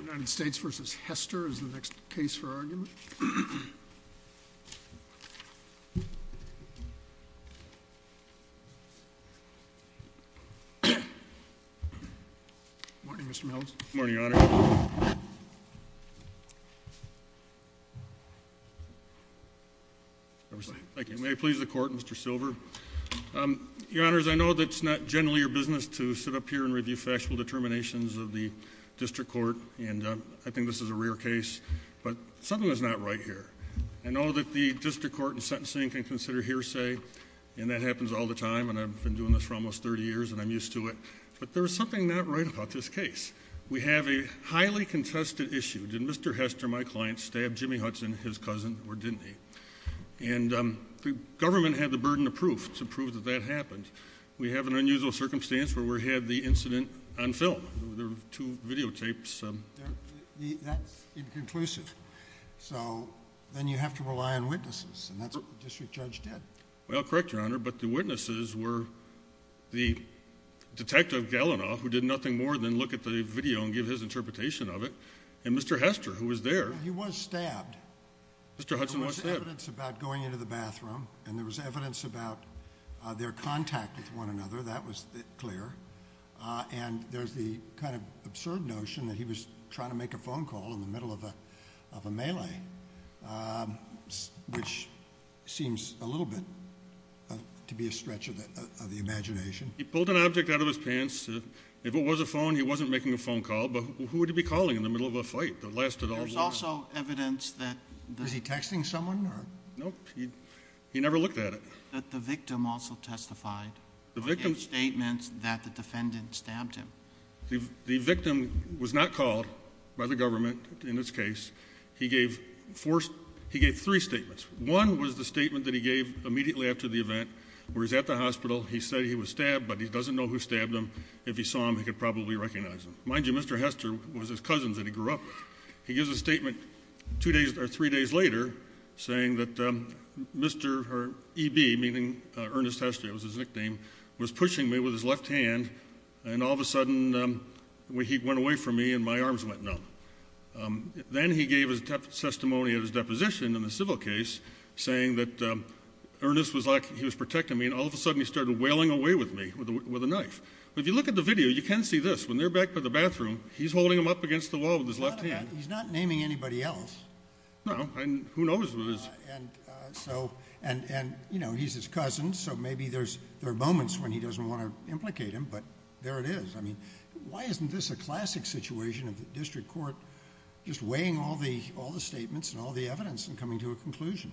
United States v. Hester is the next case for argument. Good morning Mr. Mills. Good morning Your Honor. Thank you. May I please the court Mr. Silver? Your Honors, I know that it's not generally your business to sit up here and review factual determinations of the district court, and I think this is a rare case, but something is not right here. I know that the district court in sentencing can consider hearsay, and that happens all the time, and I've been doing this for almost 30 years, and I'm used to it. But there's something not right about this case. We have a highly contested issue. Did Mr. Hester, my client, stab Jimmy Hudson, his cousin, or didn't he? And the government had the burden of proof to prove that that happened. We have an unusual circumstance where we had the incident on film. There were two videotapes. That's inconclusive. So then you have to rely on witnesses, and that's what the district judge did. Well, correct Your Honor, but the witnesses were the detective Gallina, who did nothing more than look at the video and give his interpretation of it, and Mr. Hester, who was there. He was stabbed. Mr. Hudson was stabbed. There was evidence about going into the bathroom, and there was evidence about their contact with one another. That was clear. And there's the kind of absurd notion that he was trying to make a phone call in the middle of a melee, which seems a little bit to be a stretch of the imagination. He pulled an object out of his pants. If it was a phone, he wasn't making a phone call, but who would he be calling in the middle of a fight that lasted all day? There was also evidence that the— Was he texting someone? No, he never looked at it. But the victim also testified in statements that the defendant stabbed him. The victim was not called by the government in this case. He gave three statements. One was the statement that he gave immediately after the event where he's at the hospital. He said he was stabbed, but he doesn't know who stabbed him. If he saw him, he could probably recognize him. Mind you, Mr. Hester was his cousin that he grew up with. He gives a statement three days later saying that EB, meaning Ernest Hester, was pushing me with his left hand, and all of a sudden he went away from me and my arms went numb. Then he gave a testimony of his deposition in the civil case saying that Ernest was protecting me, and all of a sudden he started wailing away with me with a knife. If you look at the video, you can see this. When they're back in the bathroom, he's holding him up against the wall with his left hand. He's not naming anybody else. No. Who knows what his— And, you know, he's his cousin, so maybe there are moments when he doesn't want to implicate him, but there it is. I mean, why isn't this a classic situation of the district court just weighing all the statements and all the evidence and coming to a conclusion?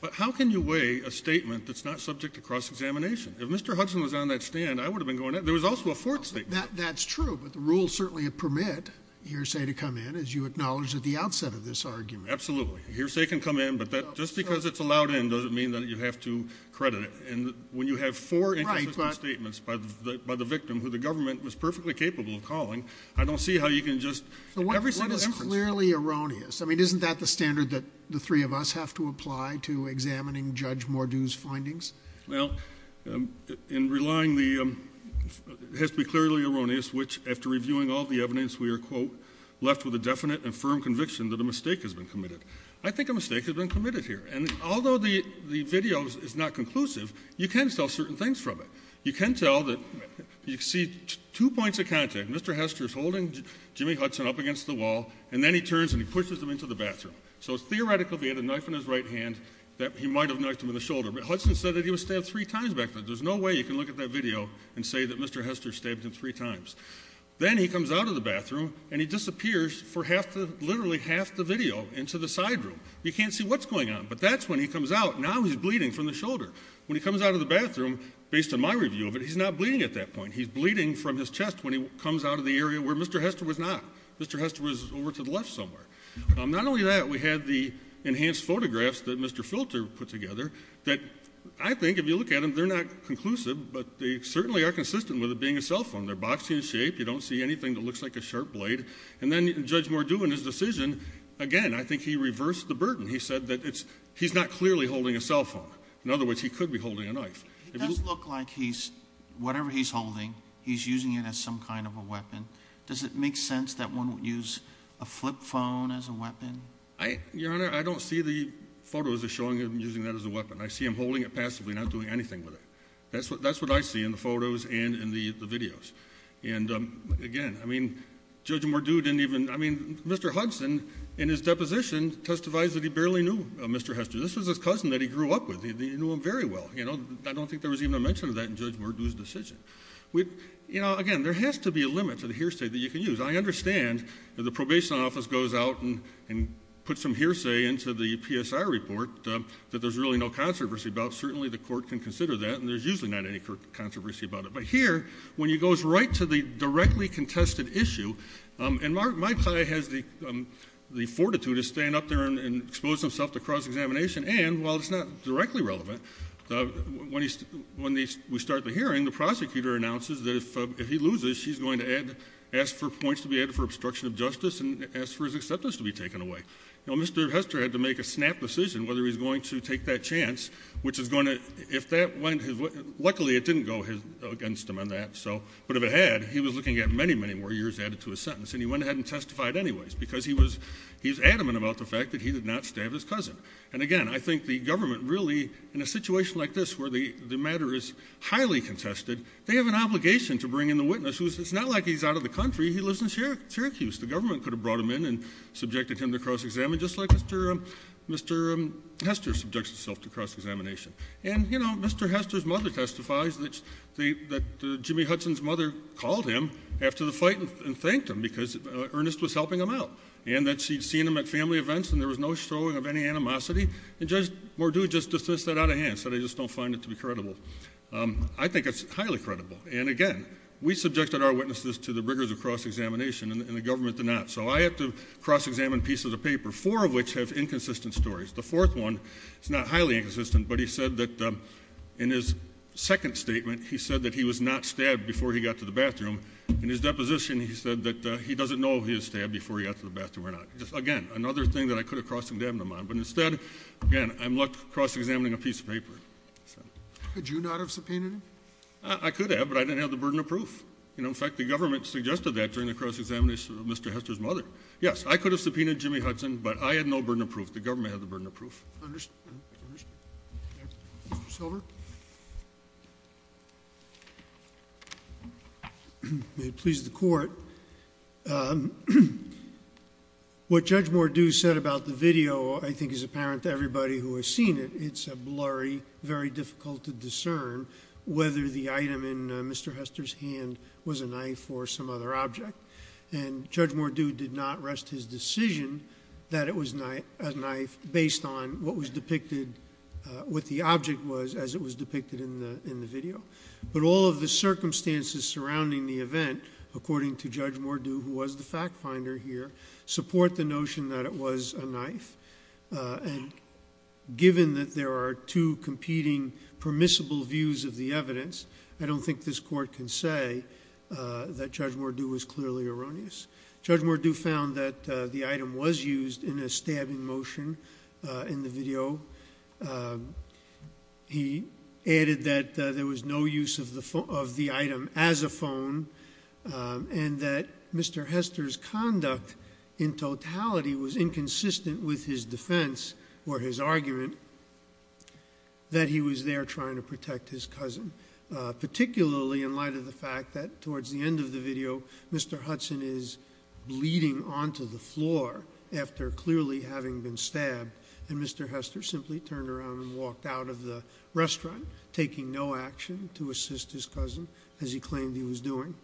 But how can you weigh a statement that's not subject to cross-examination? If Mr. Hudson was on that stand, I would have been going at him. There was also a fourth statement. That's true, but the rules certainly permit hearsay to come in, as you acknowledged at the outset of this argument. Absolutely. Hearsay can come in, but just because it's allowed in doesn't mean that you have to credit it. And when you have four inconsistent statements by the victim, who the government was perfectly capable of calling, I don't see how you can just— So what is clearly erroneous? I mean, isn't that the standard that the three of us have to apply to examining Judge Mordew's findings? Well, in relying the—it has to be clearly erroneous, which, after reviewing all the evidence, we are, quote, left with a definite and firm conviction that a mistake has been committed. I think a mistake has been committed here. And although the video is not conclusive, you can tell certain things from it. You can tell that—you see two points of contact. Mr. Hester is holding Jimmy Hudson up against the wall, and then he turns and he pushes him into the bathroom. So theoretically, he had a knife in his right hand that he might have knifed him in the shoulder. But Hudson said that he was stabbed three times back then. There's no way you can look at that video and say that Mr. Hester stabbed him three times. Then he comes out of the bathroom, and he disappears for half the—literally half the video into the side room. You can't see what's going on. But that's when he comes out. Now he's bleeding from the shoulder. When he comes out of the bathroom, based on my review of it, he's not bleeding at that point. He's bleeding from his chest when he comes out of the area where Mr. Hester was not. Mr. Hester was over to the left somewhere. Not only that, we had the enhanced photographs that Mr. Filter put together that I think, if you look at them, they're not conclusive, but they certainly are consistent with it being a cell phone. They're boxed in shape. You don't see anything that looks like a sharp blade. And then Judge Mordew in his decision, again, I think he reversed the burden. He said that it's—he's not clearly holding a cell phone. In other words, he could be holding a knife. It does look like he's—whatever he's holding, he's using it as some kind of a weapon. Does it make sense that one would use a flip phone as a weapon? Your Honor, I don't see the photos of showing him using that as a weapon. I see him holding it passively, not doing anything with it. That's what I see in the photos and in the videos. And, again, I mean, Judge Mordew didn't even—I mean, Mr. Hudson, in his deposition, testifies that he barely knew Mr. Hester. This was his cousin that he grew up with. He knew him very well. I don't think there was even a mention of that in Judge Mordew's decision. We—you know, again, there has to be a limit to the hearsay that you can use. I understand that the Probation Office goes out and puts some hearsay into the PSI report that there's really no controversy about. Certainly, the Court can consider that, and there's usually not any controversy about it. But here, when he goes right to the directly contested issue—and my plight has the fortitude to stand up there and expose himself to cross-examination. And, while it's not directly relevant, when we start the hearing, the prosecutor announces that if he loses, he's going to ask for points to be added for obstruction of justice and ask for his acceptance to be taken away. You know, Mr. Hester had to make a snap decision whether he was going to take that chance, which is going to— if that went—luckily, it didn't go against him on that. But if it had, he was looking at many, many more years added to his sentence. And he went ahead and testified anyways because he was adamant about the fact that he did not stab his cousin. And, again, I think the government really, in a situation like this where the matter is highly contested, they have an obligation to bring in the witness, who is—it's not like he's out of the country. He lives in Syracuse. The government could have brought him in and subjected him to cross-examination, just like Mr. Hester subjects himself to cross-examination. And, you know, Mr. Hester's mother testifies that Jimmy Hudson's mother called him after the fight and thanked him because Ernest was helping him out, and that she'd seen him at family events and there was no showing of any animosity. And Judge Mordew just dismissed that out of hand, said, I just don't find it to be credible. I think it's highly credible. And, again, we subjected our witnesses to the rigors of cross-examination, and the government did not. So I have to cross-examine pieces of paper, four of which have inconsistent stories. The fourth one is not highly inconsistent, but he said that in his second statement, he said that he was not stabbed before he got to the bathroom. In his deposition, he said that he doesn't know if he was stabbed before he got to the bathroom or not. Again, another thing that I could have cross-examined him on, but instead, again, I'm left cross-examining a piece of paper. Could you not have subpoenaed him? I could have, but I didn't have the burden of proof. You know, in fact, the government suggested that during the cross-examination of Mr. Hester's mother. Yes, I could have subpoenaed Jimmy Hudson, but I had no burden of proof. The government had the burden of proof. Mr. Silver? May it please the Court. What Judge Mordew said about the video I think is apparent to everybody who has seen it. It's a blurry, very difficult to discern whether the item in Mr. Hester's hand was a knife or some other object. And Judge Mordew did not rest his decision that it was a knife based on what was depicted, what the object was as it was depicted in the video. But all of the circumstances surrounding the event, according to Judge Mordew, who was the fact-finder here, support the notion that it was a knife. And given that there are two competing permissible views of the evidence, I don't think this Court can say that Judge Mordew was clearly erroneous. Judge Mordew found that the item was used in a stabbing motion in the video. He added that there was no use of the item as a phone, and that Mr. Hester's conduct in totality was inconsistent with his defense or his argument that he was there trying to protect his cousin, particularly in light of the fact that towards the end of the video, Mr. Hudson is bleeding onto the floor after clearly having been stabbed, and Mr. Hester simply turned around and walked out of the restaurant, taking no action to assist his cousin as he claimed he was doing.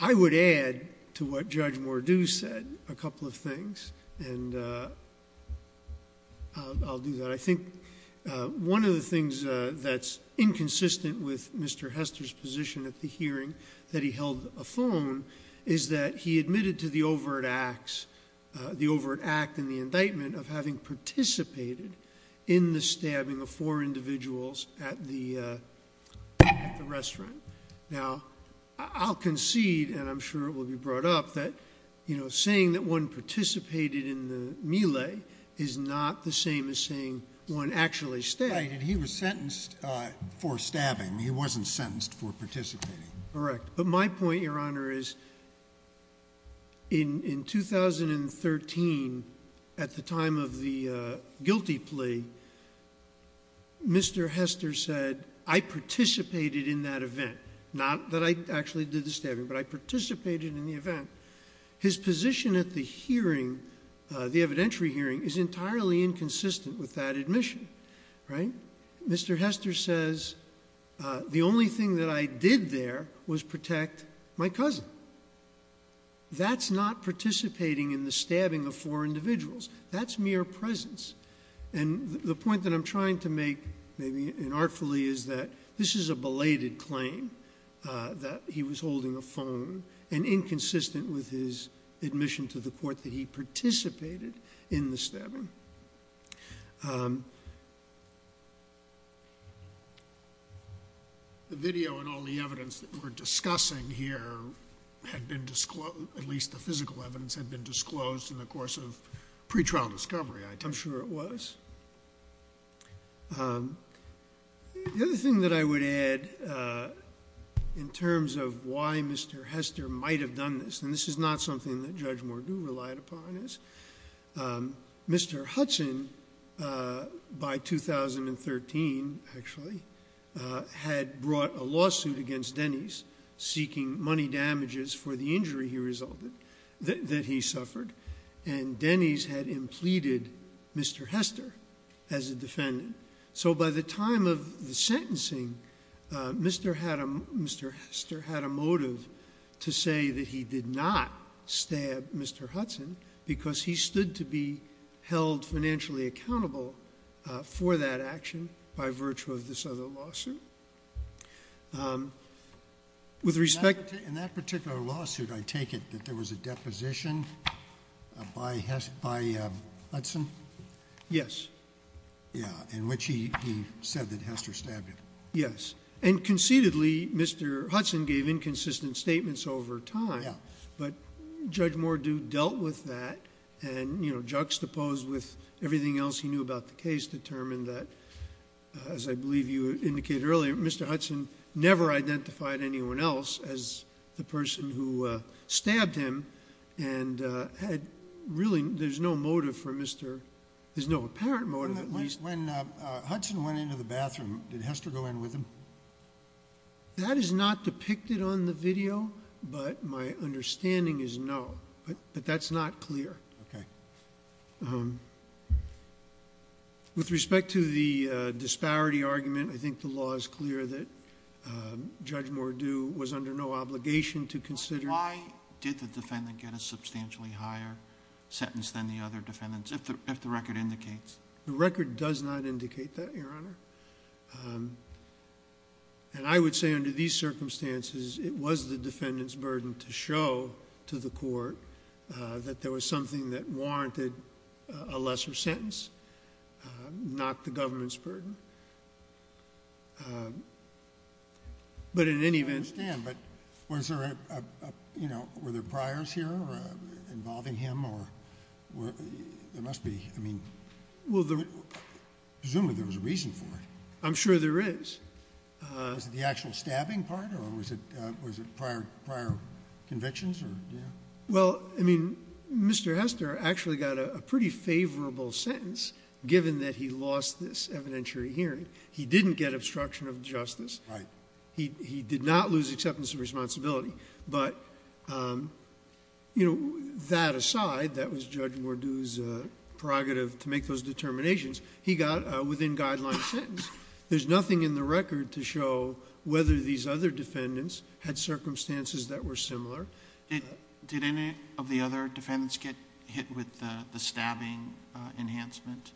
I would add to what Judge Mordew said a couple of things. And I'll do that. I think one of the things that's inconsistent with Mr. Hester's position at the hearing, that he held a phone, is that he admitted to the overt acts, the overt act in the indictment of having participated in the stabbing of four individuals at the restaurant. Now, I'll concede, and I'm sure it will be brought up, that saying that one participated in the melee is not the same as saying one actually stabbed. Right, and he was sentenced for stabbing. He wasn't sentenced for participating. Correct. But my point, Your Honor, is in 2013, at the time of the guilty plea, Mr. Hester said, I participated in that event. Not that I actually did the stabbing, but I participated in the event. His position at the hearing, the evidentiary hearing, is entirely inconsistent with that admission. Mr. Hester says, the only thing that I did there was protect my cousin. That's not participating in the stabbing of four individuals. That's mere presence. And the point that I'm trying to make, maybe inartfully, is that this is a belated claim, that he was holding a phone, and inconsistent with his admission to the court that he participated in the stabbing. The video and all the evidence that we're discussing here had been disclosed, at least the physical evidence had been disclosed in the course of pretrial discovery, I take it. I'm sure it was. The other thing that I would add, in terms of why Mr. Hester might have done this, and this is not something that Judge Mordew relied upon, is Mr. Hudson, by 2013, actually, had brought a lawsuit against Denny's, seeking money damages for the injury he resulted, that he suffered, and Denny's had implemented Mr. Hester as a defendant. So by the time of the sentencing, Mr. Hester had a motive to say that he did not stab Mr. Hudson, because he stood to be held financially accountable for that action by virtue of this other lawsuit. With respect to... In that particular lawsuit, I take it that there was a deposition by Hudson? Yes. Yeah, in which he said that Hester stabbed him. Yes. And concededly, Mr. Hudson gave inconsistent statements over time. Yeah. But Judge Mordew dealt with that, and, you know, juxtaposed with everything else he knew about the case, determined that, as I believe you indicated earlier, Mr. Hudson never identified anyone else as the person who stabbed him, and really there's no apparent motive, at least. When Hudson went into the bathroom, did Hester go in with him? That is not depicted on the video, but my understanding is no, but that's not clear. Okay. With respect to the disparity argument, I think the law is clear that Judge Mordew was under no obligation to consider. Why did the defendant get a substantially higher sentence than the other defendants, if the record indicates? The record does not indicate that, Your Honor. And I would say under these circumstances, it was the defendant's burden to show to the court that there was something that warranted a lesser sentence, not the government's burden. But in any event... I understand, but was there a, you know, were there priors here involving him, or there must be, I mean... Well, there... Presumably there was a reason for it. I'm sure there is. Was it the actual stabbing part, or was it prior convictions, or... Well, I mean, Mr. Hester actually got a pretty favorable sentence, given that he lost this evidentiary hearing. He didn't get obstruction of justice. Right. He did not lose acceptance of responsibility. But, you know, that aside, that was Judge Mordew's prerogative to make those determinations. He got a within-guideline sentence. There's nothing in the record to show whether these other defendants had circumstances that were similar. Did any of the other defendants get hit with the stabbing enhancement?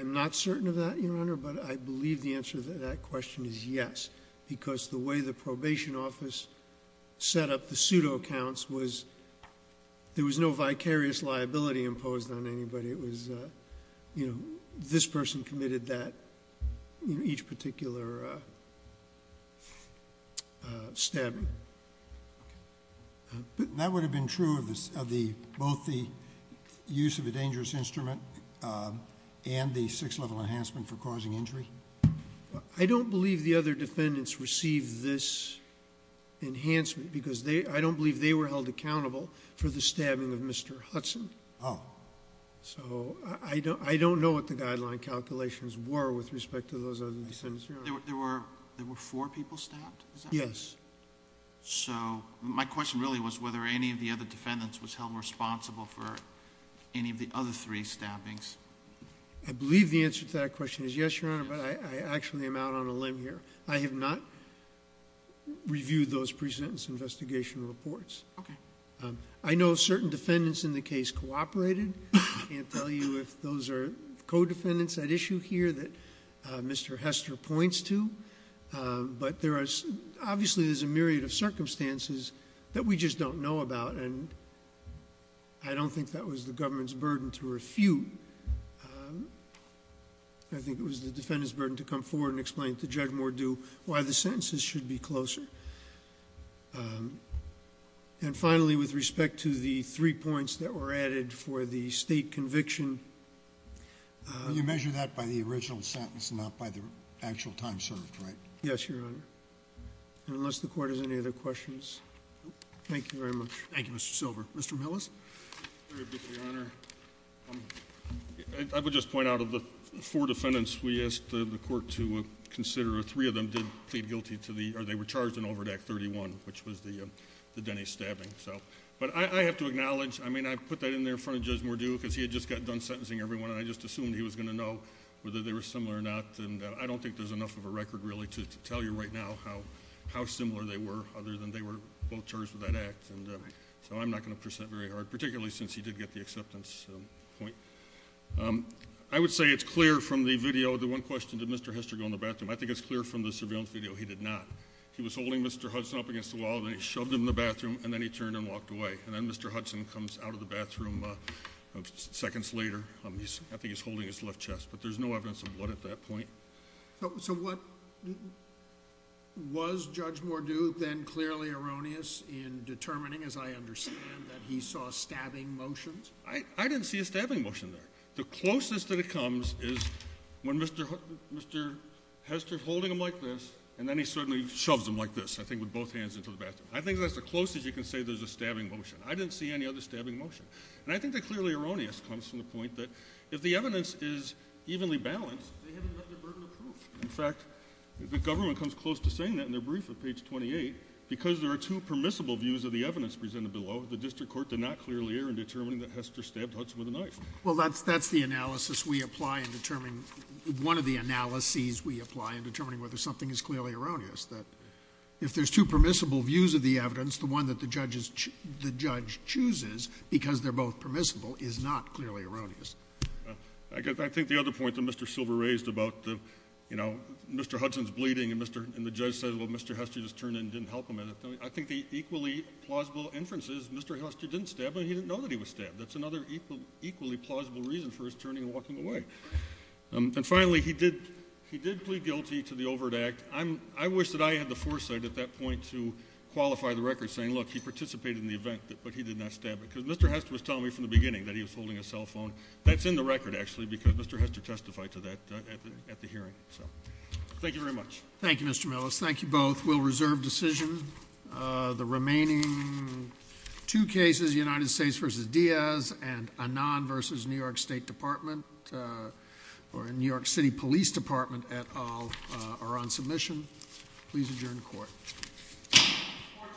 I'm not certain of that, Your Honor, but I believe the answer to that question is yes, because the way the probation office set up the pseudo-accounts was there was no vicarious liability imposed on anybody. It was, you know, this person committed that, you know, each particular stabbing. Okay. But that would have been true of both the use of a dangerous instrument and the sixth-level enhancement for causing injury? I don't believe the other defendants received this enhancement because I don't believe they were held accountable for the stabbing of Mr. Hudson. Oh. So I don't know what the guideline calculations were with respect to those other defendants, Your Honor. There were four people stabbed? Yes. So my question really was whether any of the other defendants was held responsible for any of the other three stabbings. I believe the answer to that question is yes, Your Honor, but I actually am out on a limb here. I have not reviewed those pre-sentence investigation reports. Okay. I know certain defendants in the case cooperated. I can't tell you if those are co-defendants at issue here that Mr. Hester points to, but obviously there's a myriad of circumstances that we just don't know about, and I don't think that was the government's burden to refute. I think it was the defendant's burden to come forward and explain to Judge Mordew why the sentences should be closer. And finally, with respect to the three points that were added for the state conviction. You measure that by the original sentence, not by the actual time served, right? Yes, Your Honor. Unless the Court has any other questions. Thank you very much. Thank you, Mr. Silver. Mr. Millis. Very briefly, Your Honor. I would just point out of the four defendants we asked the Court to consider, three of them did plead guilty to the or they were charged in Overdack 31, which was the Denny stabbing. But I have to acknowledge, I mean, I put that in there in front of Judge Mordew because he had just gotten done sentencing everyone, and I just assumed he was going to know whether they were similar or not. And I don't think there's enough of a record really to tell you right now how similar they were, other than they were both charged with that act. So I'm not going to present very hard, particularly since he did get the acceptance point. I would say it's clear from the video, the one question, did Mr. Hester go in the bathroom? I think it's clear from the surveillance video he did not. He was holding Mr. Hudson up against the wall, then he shoved him in the bathroom, and then he turned and walked away. And then Mr. Hudson comes out of the bathroom seconds later. I think he's holding his left chest. But there's no evidence of blood at that point. So what was Judge Mordew then clearly erroneous in determining, as I understand, that he saw stabbing motions? I didn't see a stabbing motion there. The closest that it comes is when Mr. Hester is holding him like this, and then he suddenly shoves him like this, I think, with both hands into the bathroom. I think that's the closest you can say there's a stabbing motion. I didn't see any other stabbing motion. And I think the clearly erroneous comes from the point that if the evidence is evenly balanced, they haven't left their burden of proof. In fact, the government comes close to saying that in their brief at page 28, because there are two permissible views of the evidence presented below, the district court did not clearly err in determining that Hester stabbed Hudson with a knife. Well, that's the analysis we apply in determining — one of the analyses we apply in determining whether something is clearly erroneous, that if there's two permissible views of the evidence, the one that the judge chooses because they're both permissible is not clearly erroneous. I think the other point that Mr. Silver raised about, you know, Mr. Hudson's bleeding, and the judge said, well, Mr. Hester just turned and didn't help him, I think the equally plausible inference is Mr. Hester didn't stab, but he didn't know that he was stabbed. That's another equally plausible reason for his turning and walking away. And finally, he did plead guilty to the overt act. I wish that I had the foresight at that point to qualify the record saying, look, he participated in the event, but he did not stab because Mr. Hester was telling me from the beginning that he was holding a cell phone. That's in the record, actually, because Mr. Hester testified to that at the hearing. So thank you very much. Thank you, Mr. Millis. Thank you both. We'll reserve decision. The remaining two cases, United States v. Diaz and Anon v. New York State Department or New York City Police Department et al. are on submission. Please adjourn the court. Court stands adjourned.